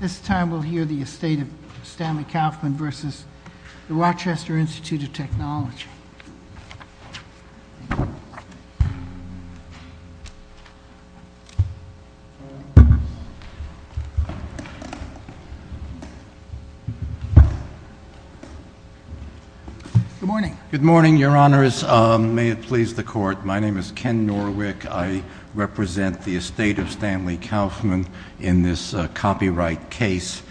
This time we'll hear the Estate of Stanley Kauffman versus the Rochester Institute of Technology. Good morning. Good morning, your honors. May it please the court, my name is Ken Norwick. I represent the Estate of Stanley Kauffman in this copyright case.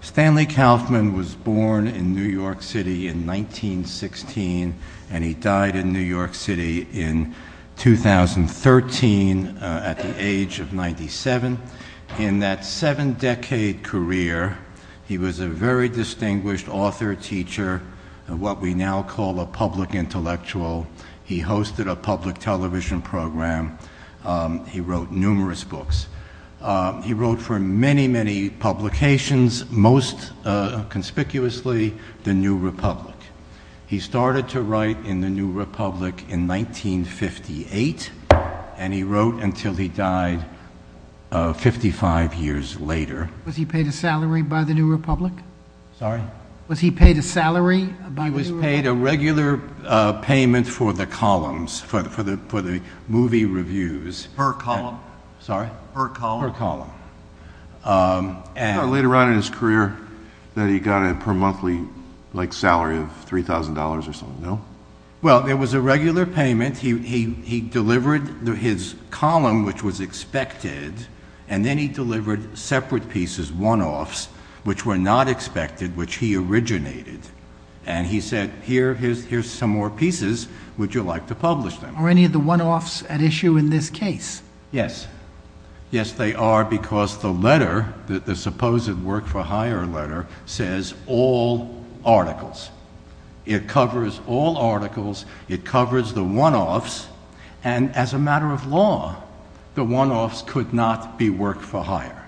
Stanley Kauffman was born in New York City in 1916 and he died in New York City in 2013 at the age of 97. In that seven decade career, he was a very distinguished author, teacher, what we now call a public intellectual. He hosted a public television program. He wrote numerous books. He wrote for many, many publications, most conspicuously the New Republic. He started to write in the New Republic in 1958 and he wrote until he died 55 years later. Was he paid a salary by the New Republic? Sorry? Was he paid a salary by the New Republic? He was paid a regular payment for the columns, for the movie reviews. Per column? Per column? Per column. Later on in his career, he got a per monthly salary of $3,000 or something, no? Well, there was a regular payment. He delivered his column, which was expected, and then he delivered separate pieces, one-offs, which were not expected, which he originated. And he said, here's some more pieces. Would you like to publish them? Are any of the one-offs at issue in this case? Yes. Yes, they are because the letter, the supposed work-for-hire letter, says all articles. It covers all articles. It covers the one-offs. And as a matter of law, the one-offs could not be work-for-hire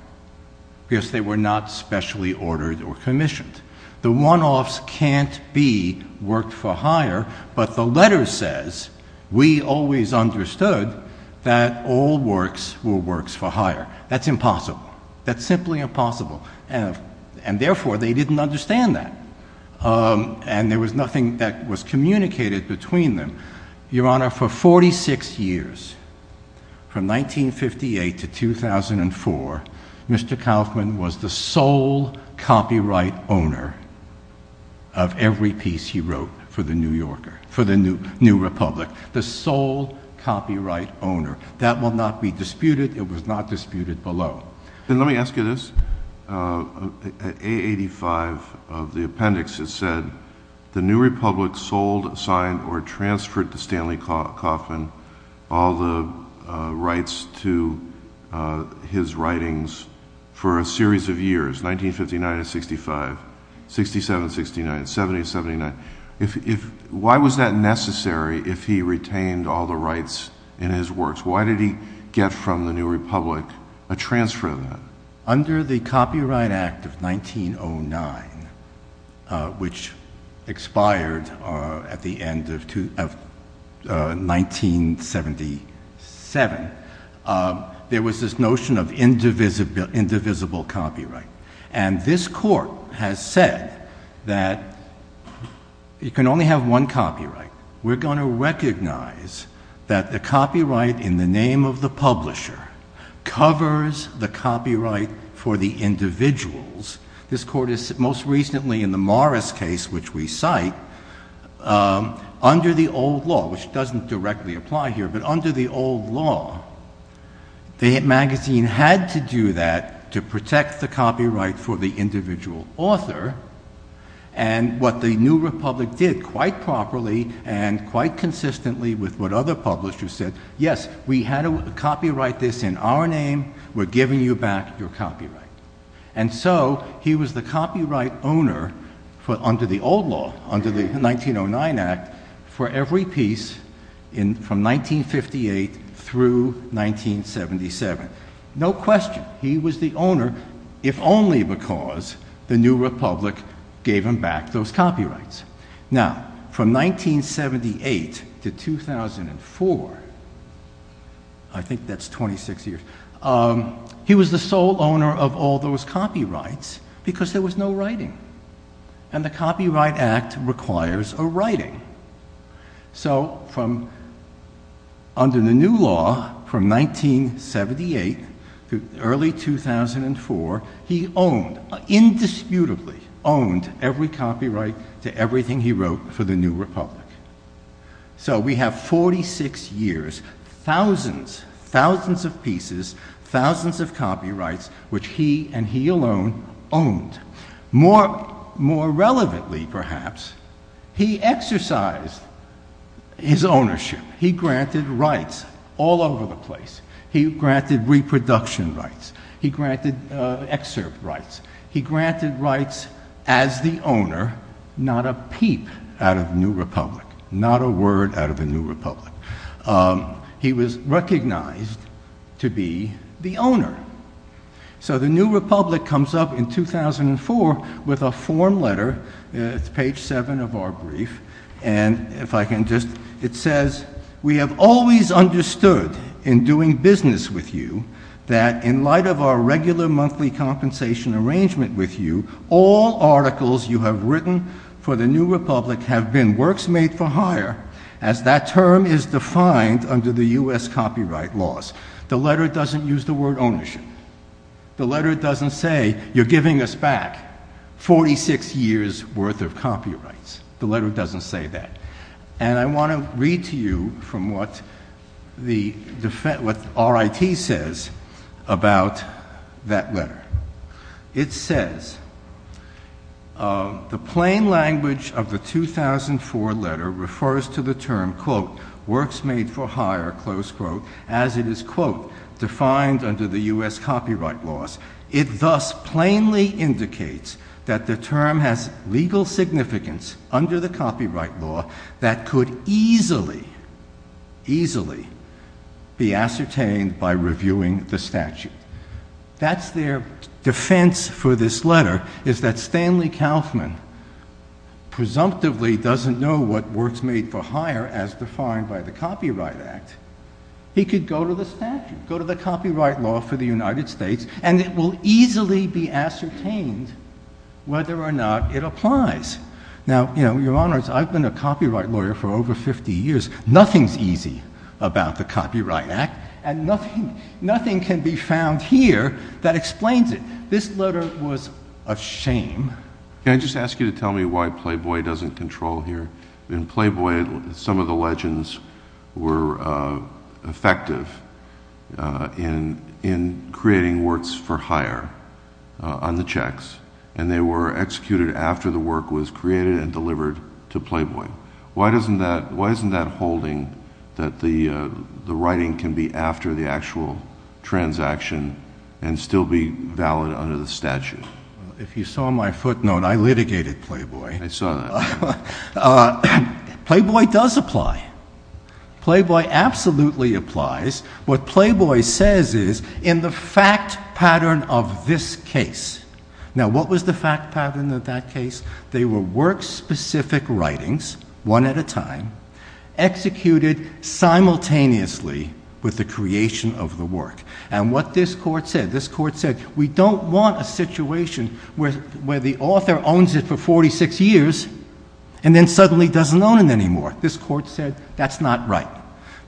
because they were not specially ordered or commissioned. The one-offs can't be work-for-hire, but the letter says, we always understood that all works were works-for-hire. That's impossible. That's simply impossible. And therefore, they didn't understand that. And there was nothing that was communicated between them. Your Honor, for 46 years, from 1958 to 2004, Mr. Kaufman was the sole copyright owner of every piece he wrote for the New Yorker, for the New Republic, the sole copyright owner. That will not be disputed. It was not disputed below. Then let me ask you this. At A85 of the appendix, it said, the New Republic sold, signed, or transferred to Stanley Kaufman all the rights to his writings for a series of years, 1959 to 65, 67 to 69, 70 to 79. Why was that necessary if he retained all the rights in his works? Why did he get from the New Republic a transfer of that? Under the Copyright Act of 1909, which expired at the end of 1977, there was this notion of indivisible copyright. And this Court has said that you can only have one copyright. We're going to recognize that the copyright in the name of the publisher covers the copyright for the individuals. This Court has said most recently in the Morris case, which we cite, under the old law, which doesn't directly apply here, but under the old law, the magazine had to do that to protect the copyright for the individual author. And what the New Republic did quite properly and quite consistently with what other publishers said, yes, we had to copyright this in our name, we're giving you back your copyright. And so he was the copyright owner under the old law, under the 1909 Act, for every piece from 1958 through 1977. No question, he was the owner if only because the New Republic gave him back those copyrights. Now, from 1978 to 2004, I think that's 26 years, he was the sole owner of all those copyrights because there was no writing. And the Copyright Act requires a writing. So under the new law from 1978 to early 2004, he owned, indisputably owned, every copyright to everything he wrote for the New Republic. So we have 46 years, thousands, thousands of pieces, thousands of copyrights, which he and he alone owned. More relevantly, perhaps, he exercised his ownership. He granted rights all over the place. He granted reproduction rights. He granted excerpt rights. He granted rights as the owner, not a peep out of New Republic, not a word out of the New Republic. He was recognized to be the owner. So the New Republic comes up in 2004 with a form letter. It's page 7 of our brief. And if I can just, it says, We have always understood in doing business with you that in light of our regular monthly compensation arrangement with you, all articles you have written for the New Republic have been works made for hire, as that term is defined under the U.S. copyright laws. The letter doesn't use the word ownership. The letter doesn't say you're giving us back 46 years worth of copyrights. The letter doesn't say that. And I want to read to you from what RIT says about that letter. It says, The plain language of the 2004 letter refers to the term, quote, works made for hire, close quote, as it is, quote, defined under the U.S. copyright laws. It thus plainly indicates that the term has legal significance under the copyright law that could easily, easily be ascertained by reviewing the statute. That's their defense for this letter, is that Stanley Kaufman presumptively doesn't know what works made for hire, as defined by the Copyright Act. He could go to the statute, go to the copyright law for the United States, and it will easily be ascertained whether or not it applies. Now, you know, Your Honors, I've been a copyright lawyer for over 50 years. Nothing's easy about the Copyright Act, and nothing can be found here that explains it. This letter was a shame. Can I just ask you to tell me why Playboy doesn't control here? In Playboy, some of the legends were effective in creating works for hire on the checks, and they were executed after the work was created and delivered to Playboy. Why isn't that holding that the writing can be after the actual transaction and still be valid under the statute? If you saw my footnote, I litigated Playboy. I saw that. Playboy does apply. Playboy absolutely applies. What Playboy says is, in the fact pattern of this case. Now, what was the fact pattern of that case? They were work-specific writings, one at a time, executed simultaneously with the creation of the work. And what this court said, this court said, we don't want a situation where the author owns it for 46 years and then suddenly doesn't own it anymore. This court said that's not right.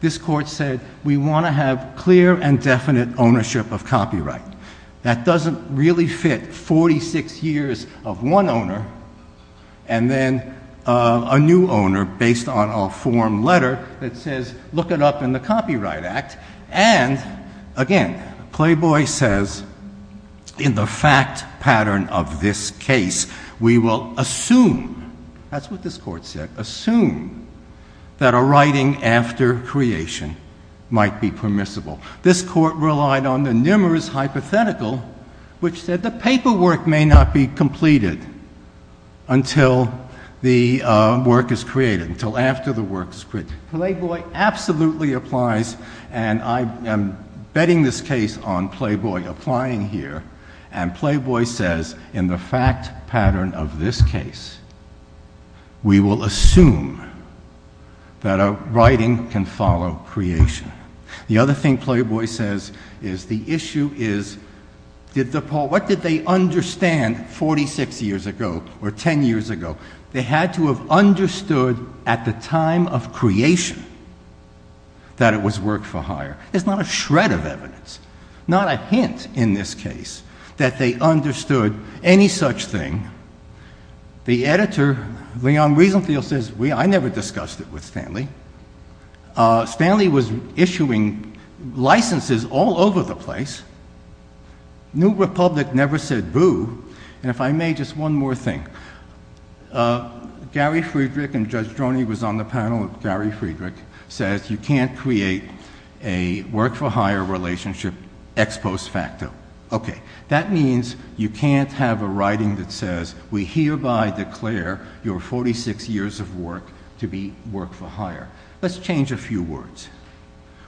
This court said we want to have clear and definite ownership of copyright. That doesn't really fit 46 years of one owner and then a new owner based on a form letter that says look it up in the Copyright Act. And, again, Playboy says in the fact pattern of this case, we will assume, that's what this court said, assume that a writing after creation might be permissible. This court relied on the numerous hypothetical, which said the paperwork may not be completed until the work is created, until after the work is created. Playboy absolutely applies, and I am betting this case on Playboy applying here. And Playboy says in the fact pattern of this case, we will assume that a writing can follow creation. The other thing Playboy says is the issue is, what did they understand 46 years ago or 10 years ago? They had to have understood at the time of creation that it was work for hire. There's not a shred of evidence, not a hint in this case, that they understood any such thing. The editor, Leon Riesenthal, says I never discussed it with Stanley. Stanley was issuing licenses all over the place. New Republic never said boo. And if I may, just one more thing. Gary Friedrich and Judge Droney was on the panel with Gary Friedrich, says you can't create a work for hire relationship ex post facto. Okay, that means you can't have a writing that says, we hereby declare your 46 years of work to be work for hire. Let's change a few words.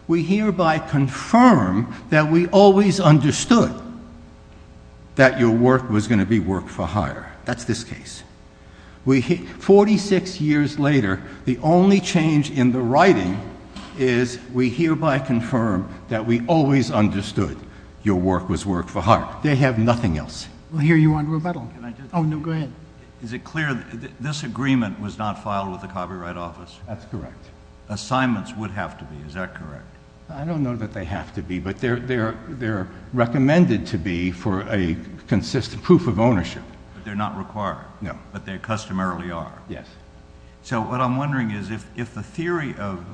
We hereby confirm that we always understood that your work was going to be work for hire. That's this case. 46 years later, the only change in the writing is, we hereby confirm that we always understood your work was work for hire. They have nothing else. We'll hear you on rebuttal. Oh, no, go ahead. Is it clear this agreement was not filed with the Copyright Office? That's correct. Assignments would have to be, is that correct? I don't know that they have to be, but they're recommended to be for a consistent proof of ownership. But they're not required? No. But they customarily are? Yes. So what I'm wondering is, if the theory of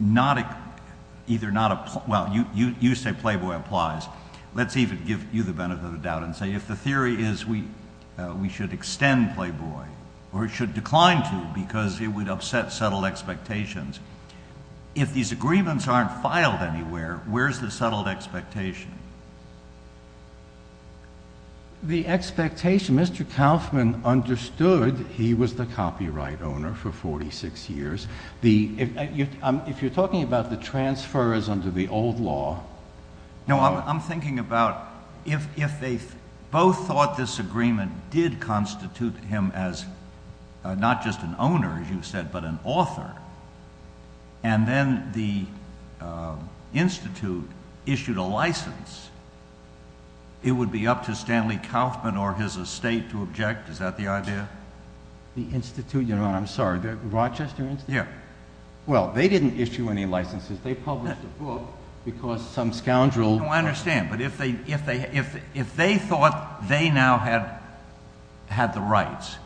not a, well, you say Playboy applies. Let's even give you the benefit of the doubt and say, if the theory is we should extend Playboy, or it should decline to because it would upset settled expectations, if these agreements aren't filed anywhere, where's the settled expectation? The expectation, Mr. Kaufman understood he was the copyright owner for 46 years. If you're talking about the transfer is under the old law. No, I'm thinking about if they both thought this agreement did constitute him as not just an owner, as you said, but an author, and then the Institute issued a license, it would be up to Stanley Kaufman or his estate to object. Is that the idea? The Institute, I'm sorry, the Rochester Institute? Yes. Well, they didn't issue any licenses. They published a book because some scoundrel… I understand, but if they thought they now had the rights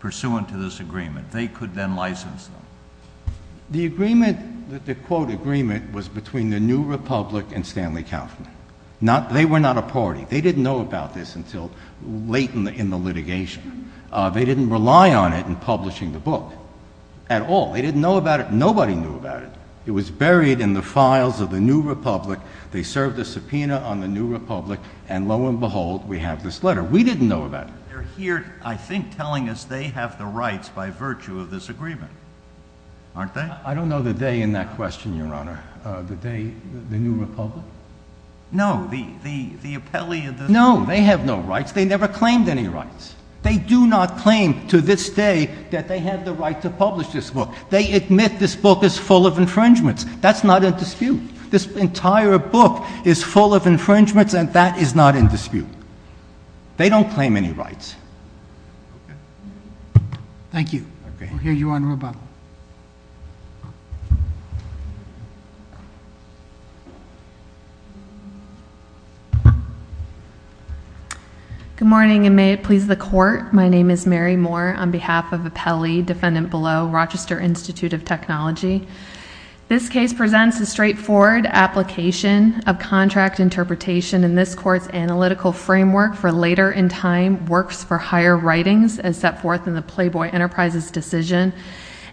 pursuant to this agreement, they could then license them. The agreement, the quote agreement, was between the New Republic and Stanley Kaufman. They were not a party. They didn't know about this until late in the litigation. They didn't rely on it in publishing the book at all. They didn't know about it. Nobody knew about it. It was buried in the files of the New Republic. They served a subpoena on the New Republic, and lo and behold, we have this letter. We didn't know about it. They're here, I think, telling us they have the rights by virtue of this agreement, aren't they? I don't know the they in that question, Your Honor. The they, the New Republic? No, the appellee of the… No, they have no rights. They never claimed any rights. They do not claim to this day that they have the right to publish this book. They admit this book is full of infringements. That's not in dispute. This entire book is full of infringements, and that is not in dispute. They don't claim any rights. Okay. Thank you. We'll hear you on rebuttal. Good morning, and may it please the court. My name is Mary Moore on behalf of appellee, defendant below, Rochester Institute of Technology. This case presents a straightforward application of contract interpretation in this court's analytical framework for later in time works for higher writings as set forth and which has been approved by the court by the plaintiffs.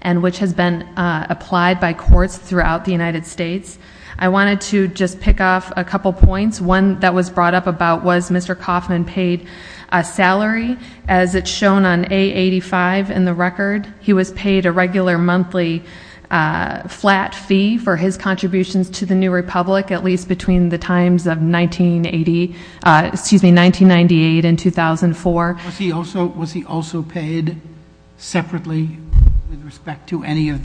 It has been applied by courts throughout the United States. I wanted to just pick off a couple points. One that was brought up about was Mr. Kaufman paid a salary as it's shown on A85 in the record. He was paid a regular monthly flat fee for his contributions to the New Republic at least between the times of 1980, excuse me, 1998 and 2004. Was he also paid separately with respect to any of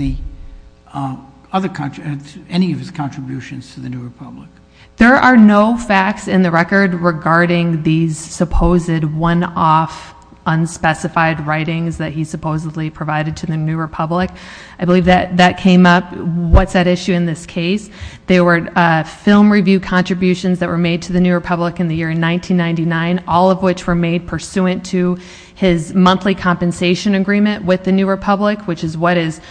his contributions to the New Republic? There are no facts in the record regarding these supposed one-off unspecified writings that he supposedly provided to the New Republic. I believe that came up. What's at issue in this case? There were film review contributions that were made to the New Republic in the year 1999, all of which were made pursuant to his monthly compensation agreement with the New Republic, which is what is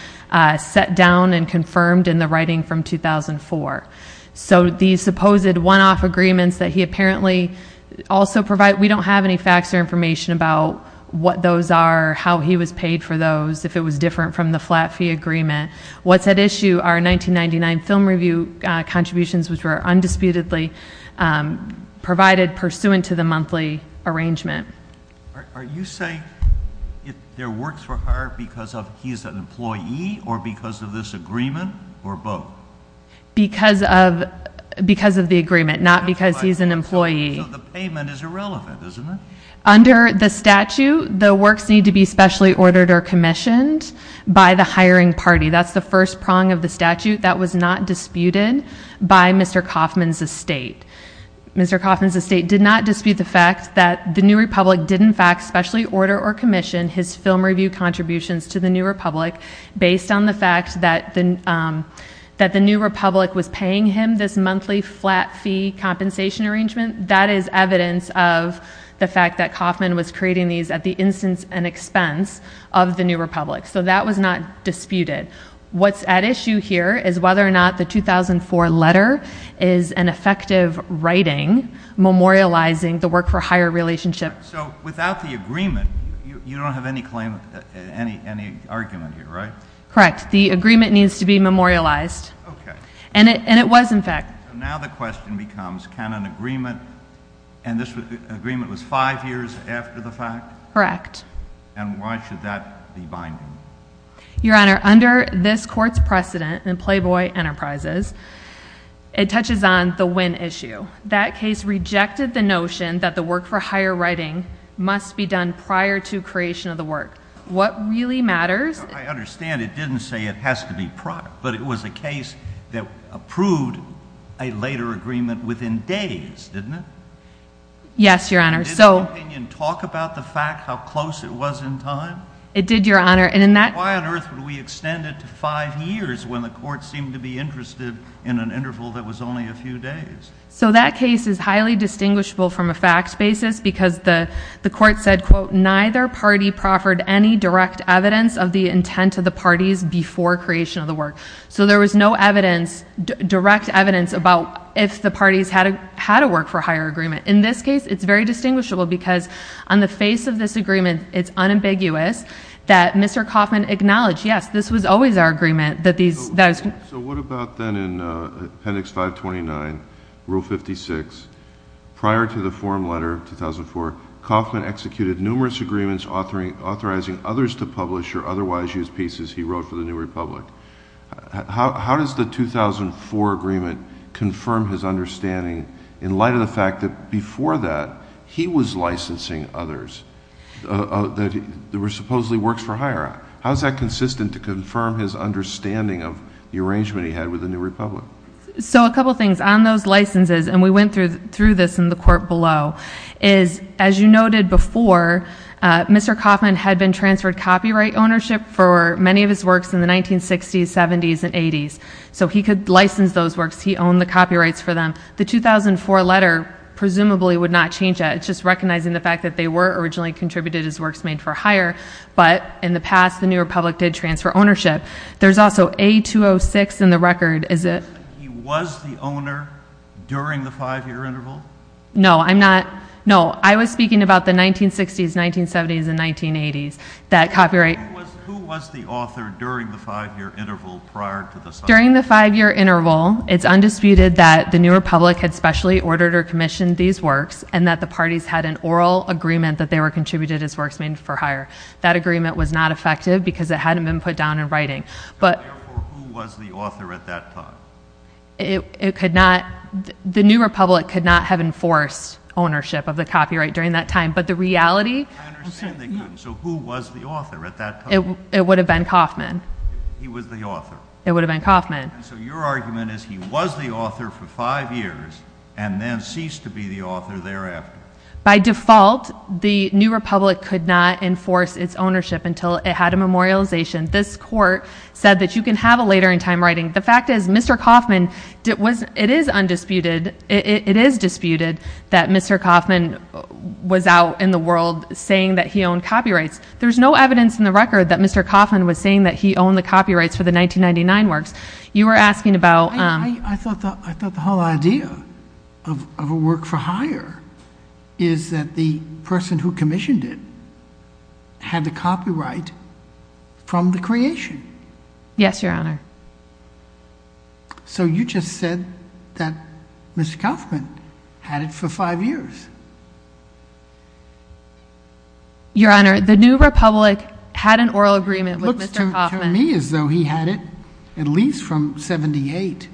set down and confirmed in the writing from 2004. So these supposed one-off agreements that he apparently also provided, we don't have any facts or information about what those are, how he was paid for those, if it was different from the flat fee agreement. What's at issue are 1999 film review contributions which were undisputedly provided pursuant to the monthly arrangement. Are you saying their works were hired because he's an employee or because of this agreement or both? Because of the agreement, not because he's an employee. So the payment is irrelevant, isn't it? Under the statute, the works need to be specially ordered or commissioned by the hiring party. That's the first prong of the statute that was not disputed by Mr. Kauffman's estate. Mr. Kauffman's estate did not dispute the fact that the New Republic did in fact specially order or commission his film review contributions to the New Republic based on the fact that the New Republic was paying him this monthly flat fee compensation arrangement. That is evidence of the fact that Kauffman was creating these at the instance and expense of the New Republic. So that was not disputed. What's at issue here is whether or not the 2004 letter is an effective writing memorializing the work for hire relationship. So without the agreement, you don't have any claim, any argument here, right? Correct. The agreement needs to be memorialized. Okay. And it was in fact. So now the question becomes, can an agreement, and this agreement was five years after the fact? Correct. And why should that be binding? Your Honor, under this court's precedent in Playboy Enterprises, it touches on the win issue. That case rejected the notion that the work for hire writing must be done prior to creation of the work. What really matters. I understand it didn't say it has to be prior, but it was a case that approved a later agreement within days, didn't it? Yes, Your Honor. So. Did the opinion talk about the fact how close it was in time? It did, Your Honor. And in that. Why on earth would we extend it to five years when the court seemed to be interested in an interval that was only a few days? So that case is highly distinguishable from a fact basis because the court said, quote, neither party proffered any direct evidence of the intent of the parties before creation of the work. So there was no evidence, direct evidence about if the parties had a work for hire agreement. In this case, it's very distinguishable because on the face of this agreement, it's unambiguous that Mr. Kaufman acknowledged, yes, this was always our agreement. So what about then in Appendix 529, Rule 56? Prior to the forum letter of 2004, Kaufman executed numerous agreements authorizing others to publish or otherwise use pieces he wrote for the New Republic. How does the 2004 agreement confirm his understanding in light of the fact that before that, he was licensing others that were supposedly works for hire? How is that consistent to confirm his understanding of the arrangement he had with the New Republic? So a couple things. On those licenses, and we went through this in the court below, is as you noted before, Mr. Kaufman had been transferred copyright ownership for many of his works in the 1960s, 70s, and 80s. So he could license those works. He owned the copyrights for them. The 2004 letter presumably would not change that. It's just recognizing the fact that they were originally contributed as works made for hire, but in the past, the New Republic did transfer ownership. There's also A-206 in the record. Is it... He was the owner during the 5-year interval? No, I'm not... No, I was speaking about the 1960s, 1970s, and 1980s, that copyright... Who was the author during the 5-year interval prior to the... During the 5-year interval, it's undisputed that the New Republic had specially ordered or commissioned these works, and that the parties had an oral agreement that they were contributed as works made for hire. That agreement was not effective because it hadn't been put down in writing. Therefore, who was the author at that time? It could not... The New Republic could not have enforced ownership of the copyright during that time, but the reality... I understand they couldn't. So who was the author at that time? It would have been Kaufman. He was the author. It would have been Kaufman. So your argument is he was the author for 5 years and then ceased to be the author thereafter. By default, the New Republic could not enforce its ownership until it had a memorialization. This court said that you can have a later in time writing. The fact is, Mr. Kaufman... It is undisputed, it is disputed, that Mr. Kaufman was out in the world saying that he owned copyrights. There's no evidence in the record that Mr. Kaufman was saying that he owned the copyrights for the 1999 works. You were asking about... I thought the whole idea of a work for hire is that the person who commissioned it had the copyright from the creation. Yes, Your Honor. So you just said that Mr. Kaufman had it for 5 years. Your Honor, the New Republic had an oral agreement with Mr. Kaufman. It looks to me as though he had it at least from 1978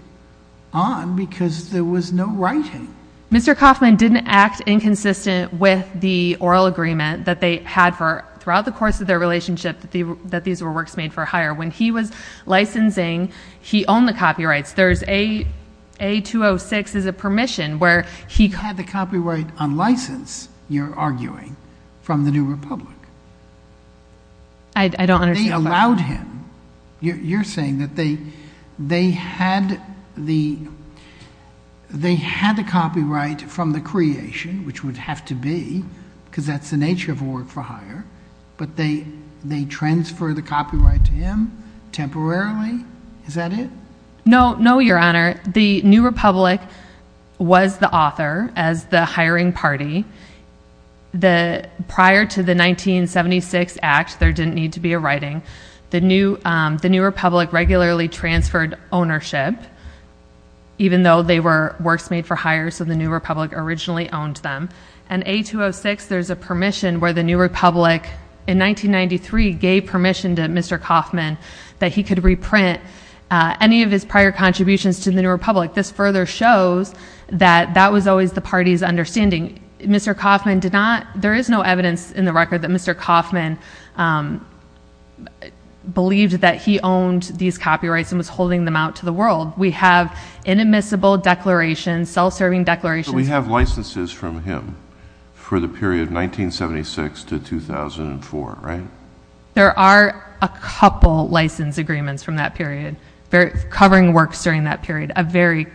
on because there was no writing. Mr. Kaufman didn't act inconsistent with the oral agreement that they had throughout the course of their relationship that these were works made for hire. When he was licensing, he owned the copyrights. There's... A-206 is a permission where he... He had the copyright on license, you're arguing, from the New Republic. I don't understand... They allowed him... You're saying that they had the copyright from the creation, which would have to be, because that's the nature of a work for hire, but they transferred the copyright to him temporarily? Is that it? No, Your Honor. The New Republic was the author as the hiring party. Prior to the 1976 Act, there didn't need to be a writing. The New Republic regularly transferred ownership, even though they were works made for hire, so the New Republic originally owned them. And A-206, there's a permission where the New Republic, in 1993, gave permission to Mr. Kaufman that he could reprint any of his prior contributions to the New Republic. This further shows that that was always the party's understanding. Mr. Kaufman did not... believed that he owned these copyrights and was holding them out to the world. We have inadmissible declarations, self-serving declarations... But we have licenses from him for the period 1976 to 2004, right? There are a couple license agreements from that period covering works during that period, a very,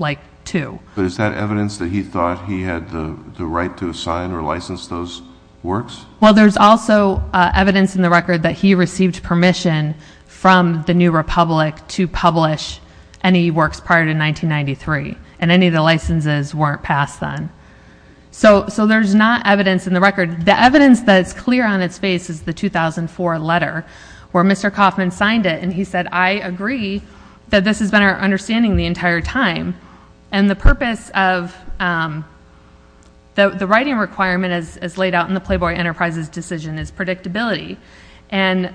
like, two. But is that evidence that he thought he had the right to assign or license those works? Well, there's also evidence in the record that he received permission from the New Republic to publish any works prior to 1993, and any of the licenses weren't passed then. So there's not evidence in the record. The evidence that's clear on its face is the 2004 letter where Mr. Kaufman signed it, and he said, I agree that this has been our understanding the entire time. And the purpose of... the writing requirement as laid out in the Playboy Enterprises decision is predictability. And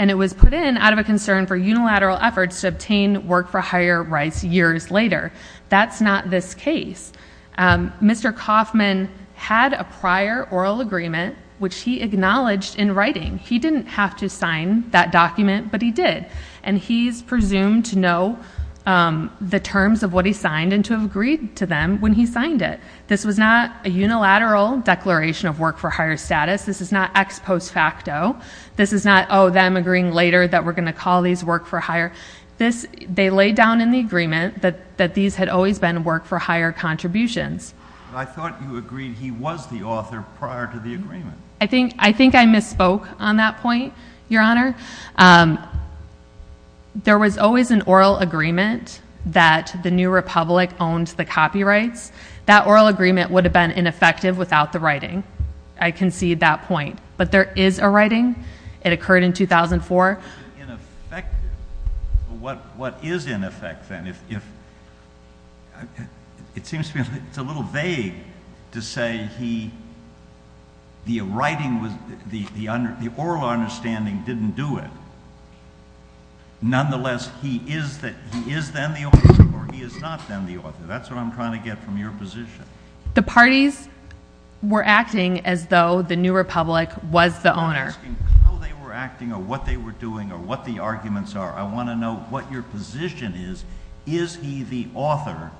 it was put in out of a concern for unilateral efforts to obtain work for higher rights years later. That's not this case. Mr. Kaufman had a prior oral agreement, which he acknowledged in writing. He didn't have to sign that document, but he did. And he's presumed to know the terms of what he signed and to have agreed to them when he signed it. This was not a unilateral declaration of work for higher status. This is not ex post facto. This is not, oh, them agreeing later that we're going to call these work for higher. They laid down in the agreement that these had always been work for higher contributions. I thought you agreed he was the author prior to the agreement. I think I misspoke on that point, Your Honor. There was always an oral agreement that the New Republic owned the copyrights. That oral agreement would have been ineffective without the writing. I concede that point. But there is a writing. It occurred in 2004. What is in effect, then? It seems to me it's a little vague to say the oral understanding didn't do it. Nonetheless, he is then the author, or he is not then the author. That's what I'm trying to get from your position. The parties were acting as though the New Republic was the owner. I'm not asking how they were acting or what they were doing or what the arguments are. I want to know what your position is. Is he the author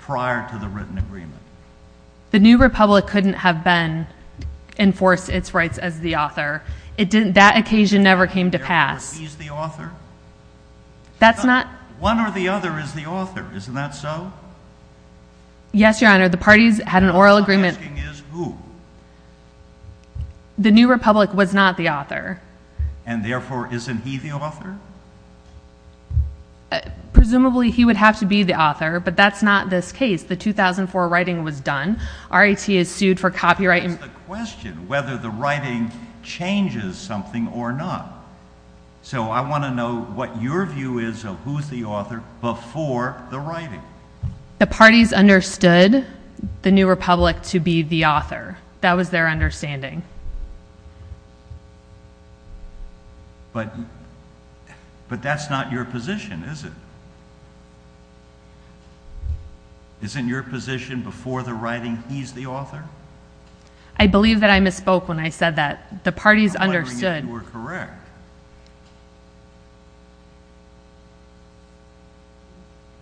prior to the written agreement? The New Republic couldn't have been enforced its rights as the author. That occasion never came to pass. Therefore, he's the author? That's not... One or the other is the author. Isn't that so? Yes, Your Honor. The parties had an oral agreement... What I'm asking is who. The New Republic was not the author. And therefore, isn't he the author? Presumably, he would have to be the author, but that's not this case. The 2004 writing was done. RIT is sued for copyright... That's the question, whether the writing changes something or not. So I want to know what your view is of who's the author before the writing. The parties understood the New Republic to be the author. That was their understanding. But that's not your position, is it? Isn't your position before the writing, he's the author? I believe that I misspoke when I said that. The parties understood...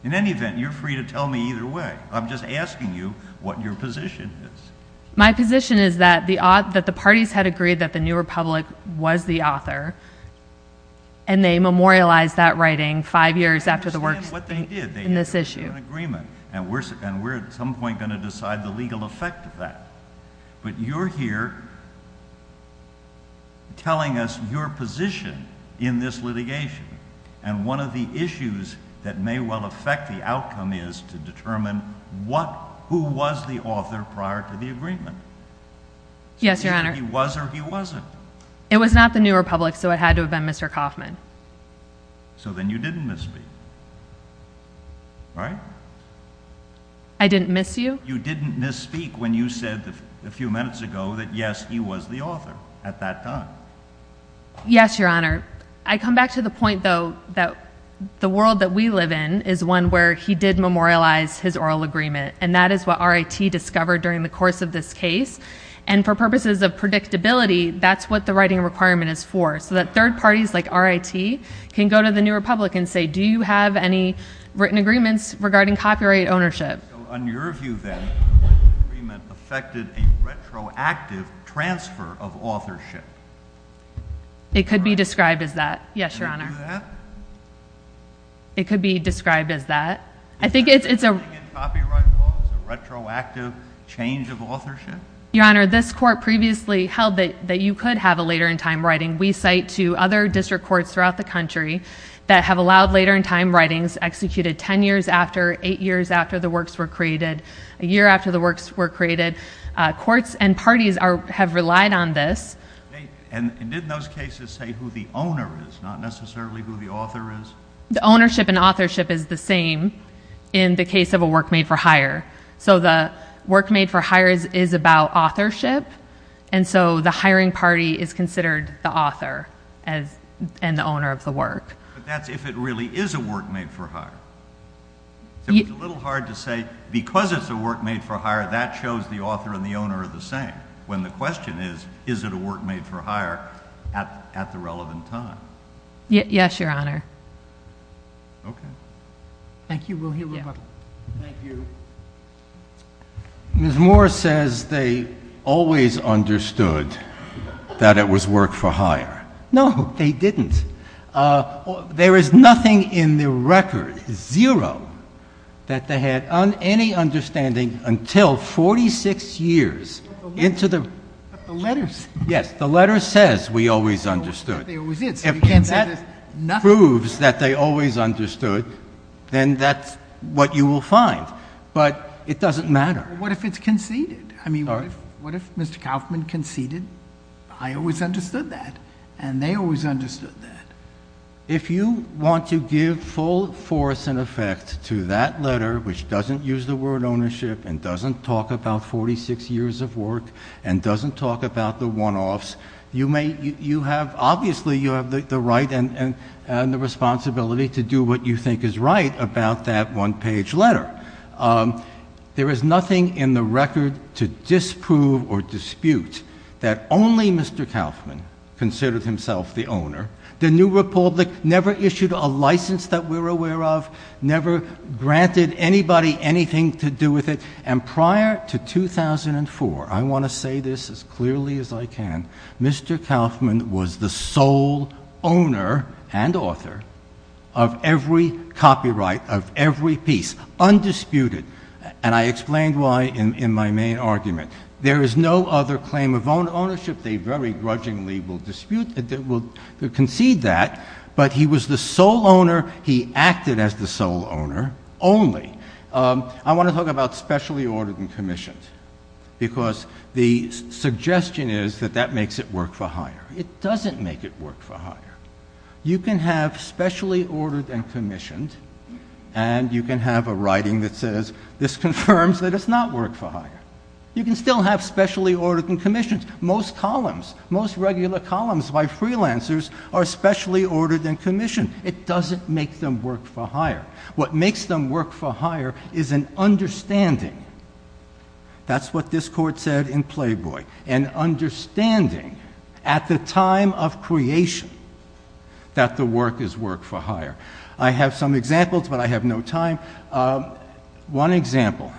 In any event, you're free to tell me either way. I'm just asking you what your position is. My position is that the parties had agreed that the New Republic was the author, and they memorialized that writing five years after the works in this issue. I understand what they did. They had an agreement, and we're at some point going to decide the legal effect of that. But you're here telling us your position in this litigation, and one of the issues that may well affect the outcome is to determine who was the author prior to the agreement. Yes, Your Honor. He was or he wasn't. It was not the New Republic, so it had to have been Mr. Kauffman. So then you didn't misspeak, right? I didn't miss you? You didn't misspeak when you said a few minutes ago that, yes, he was the author at that time. Yes, Your Honor. I come back to the point, though, that the world that we live in is one where he did memorialize his oral agreement, and that is what RIT discovered during the course of this case. And for purposes of predictability, that's what the writing requirement is for, so that third parties like RIT can go to the New Republic and say, do you have any written agreements regarding copyright ownership? So on your view, then, the writing agreement affected a retroactive transfer of authorship It could be described as that. Yes, Your Honor. Could it do that? It could be described as that. I think it's a... Is it something in copyright law that's a retroactive change of authorship? Your Honor, this court previously held that you could have a later-in-time writing. We cite to other district courts throughout the country that have allowed later-in-time writings executed 10 years after, 8 years after the works were created, a year after the works were created. Courts and parties have relied on this. And didn't those cases say who the owner is, not necessarily who the author is? The ownership and authorship is the same in the case of a work made for hire. So the work made for hire is about authorship, and so the hiring party is considered the author and the owner of the work. But that's if it really is a work made for hire. It's a little hard to say, because it's a work made for hire, that shows the author and the owner are the same, when the question is, is it a work made for hire at the relevant time? Yes, Your Honor. Okay. Thank you. We'll hear from you. Thank you. Ms. Moore says they always understood that it was work for hire. No, they didn't. There is nothing in the record, zero, that they had any understanding until 46 years into the... But the letters... Yes, the letter says we always understood. But they always did, so you can't say there's nothing... If that proves that they always understood, then that's what you will find. But it doesn't matter. What if it's conceded? I mean, what if Mr. Kaufman conceded? I always understood that, and they always understood that. If you want to give full force and effect to that letter, which doesn't use the word ownership and doesn't talk about 46 years of work and doesn't talk about the one-offs, obviously you have the right and the responsibility to do what you think is right about that one-page letter. There is nothing in the record to disprove or dispute that only Mr. Kaufman considered himself the owner. The New Republic never issued a license that we're aware of, never granted anybody anything to do with it. And prior to 2004, I want to say this as clearly as I can, Mr. Kaufman was the sole owner and author of every copyright, of every piece, undisputed. And I explained why in my main argument. There is no other claim of ownership. They very grudgingly will dispute... will concede that. But he was the sole owner. He acted as the sole owner only. I want to talk about specially ordered and commissioned because the suggestion is that that makes it work for hire. It doesn't make it work for hire. You can have specially ordered and commissioned and you can have a writing that says, this confirms that it's not work for hire. You can still have specially ordered and commissioned. Most columns, most regular columns by freelancers are specially ordered and commissioned. It doesn't make them work for hire. What makes them work for hire is an understanding. That's what this court said in Playboy. An understanding at the time of creation that the work is work for hire. I have some examples, but I have no time. One example.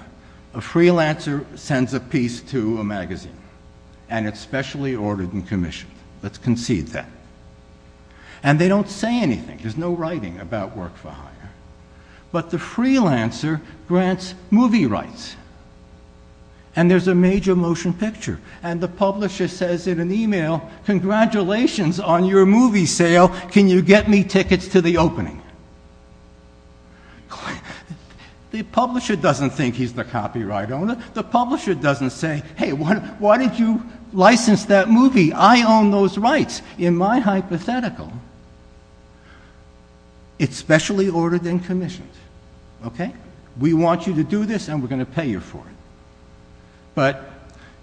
A freelancer sends a piece to a magazine and it's specially ordered and commissioned. Let's concede that. And they don't say anything. There's no writing about work for hire. But the freelancer grants movie rights. And there's a major motion picture. And the publisher says in an email, congratulations on your movie sale. Can you get me tickets to the opening? The publisher doesn't think he's the copyright owner. The publisher doesn't say, hey, why did you license that movie? I own those rights. In my hypothetical, it's specially ordered and commissioned. We want you to do this and we're going to pay you for it. But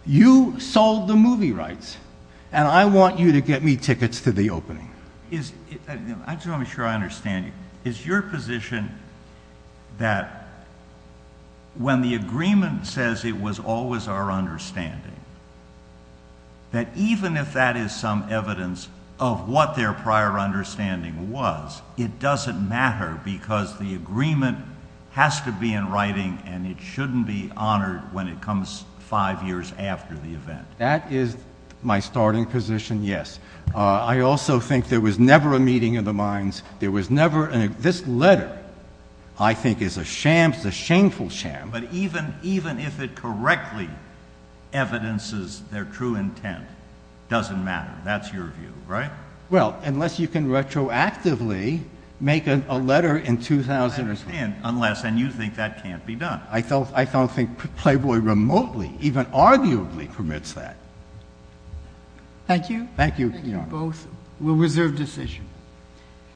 you sold the movie rights and I want you to get me tickets to the opening. I just want to make sure I understand you. Is your position that when the agreement says it was always our understanding, that even if that is some evidence of what their prior understanding was, it doesn't matter because the agreement has to be in writing and it shouldn't be honored when it comes five years after the event? That is my starting position, yes. I also think there was never a meeting of the minds. This letter, I think, is a sham. It's a shameful sham. But even if it correctly evidences their true intent, it doesn't matter. That's your view, right? Well, unless you can retroactively make a letter in 2001. I understand. Unless, and you think that can't be done. I don't think Playboy remotely, even arguably, permits that. Thank you. Thank you. Thank you both. We'll reserve decision.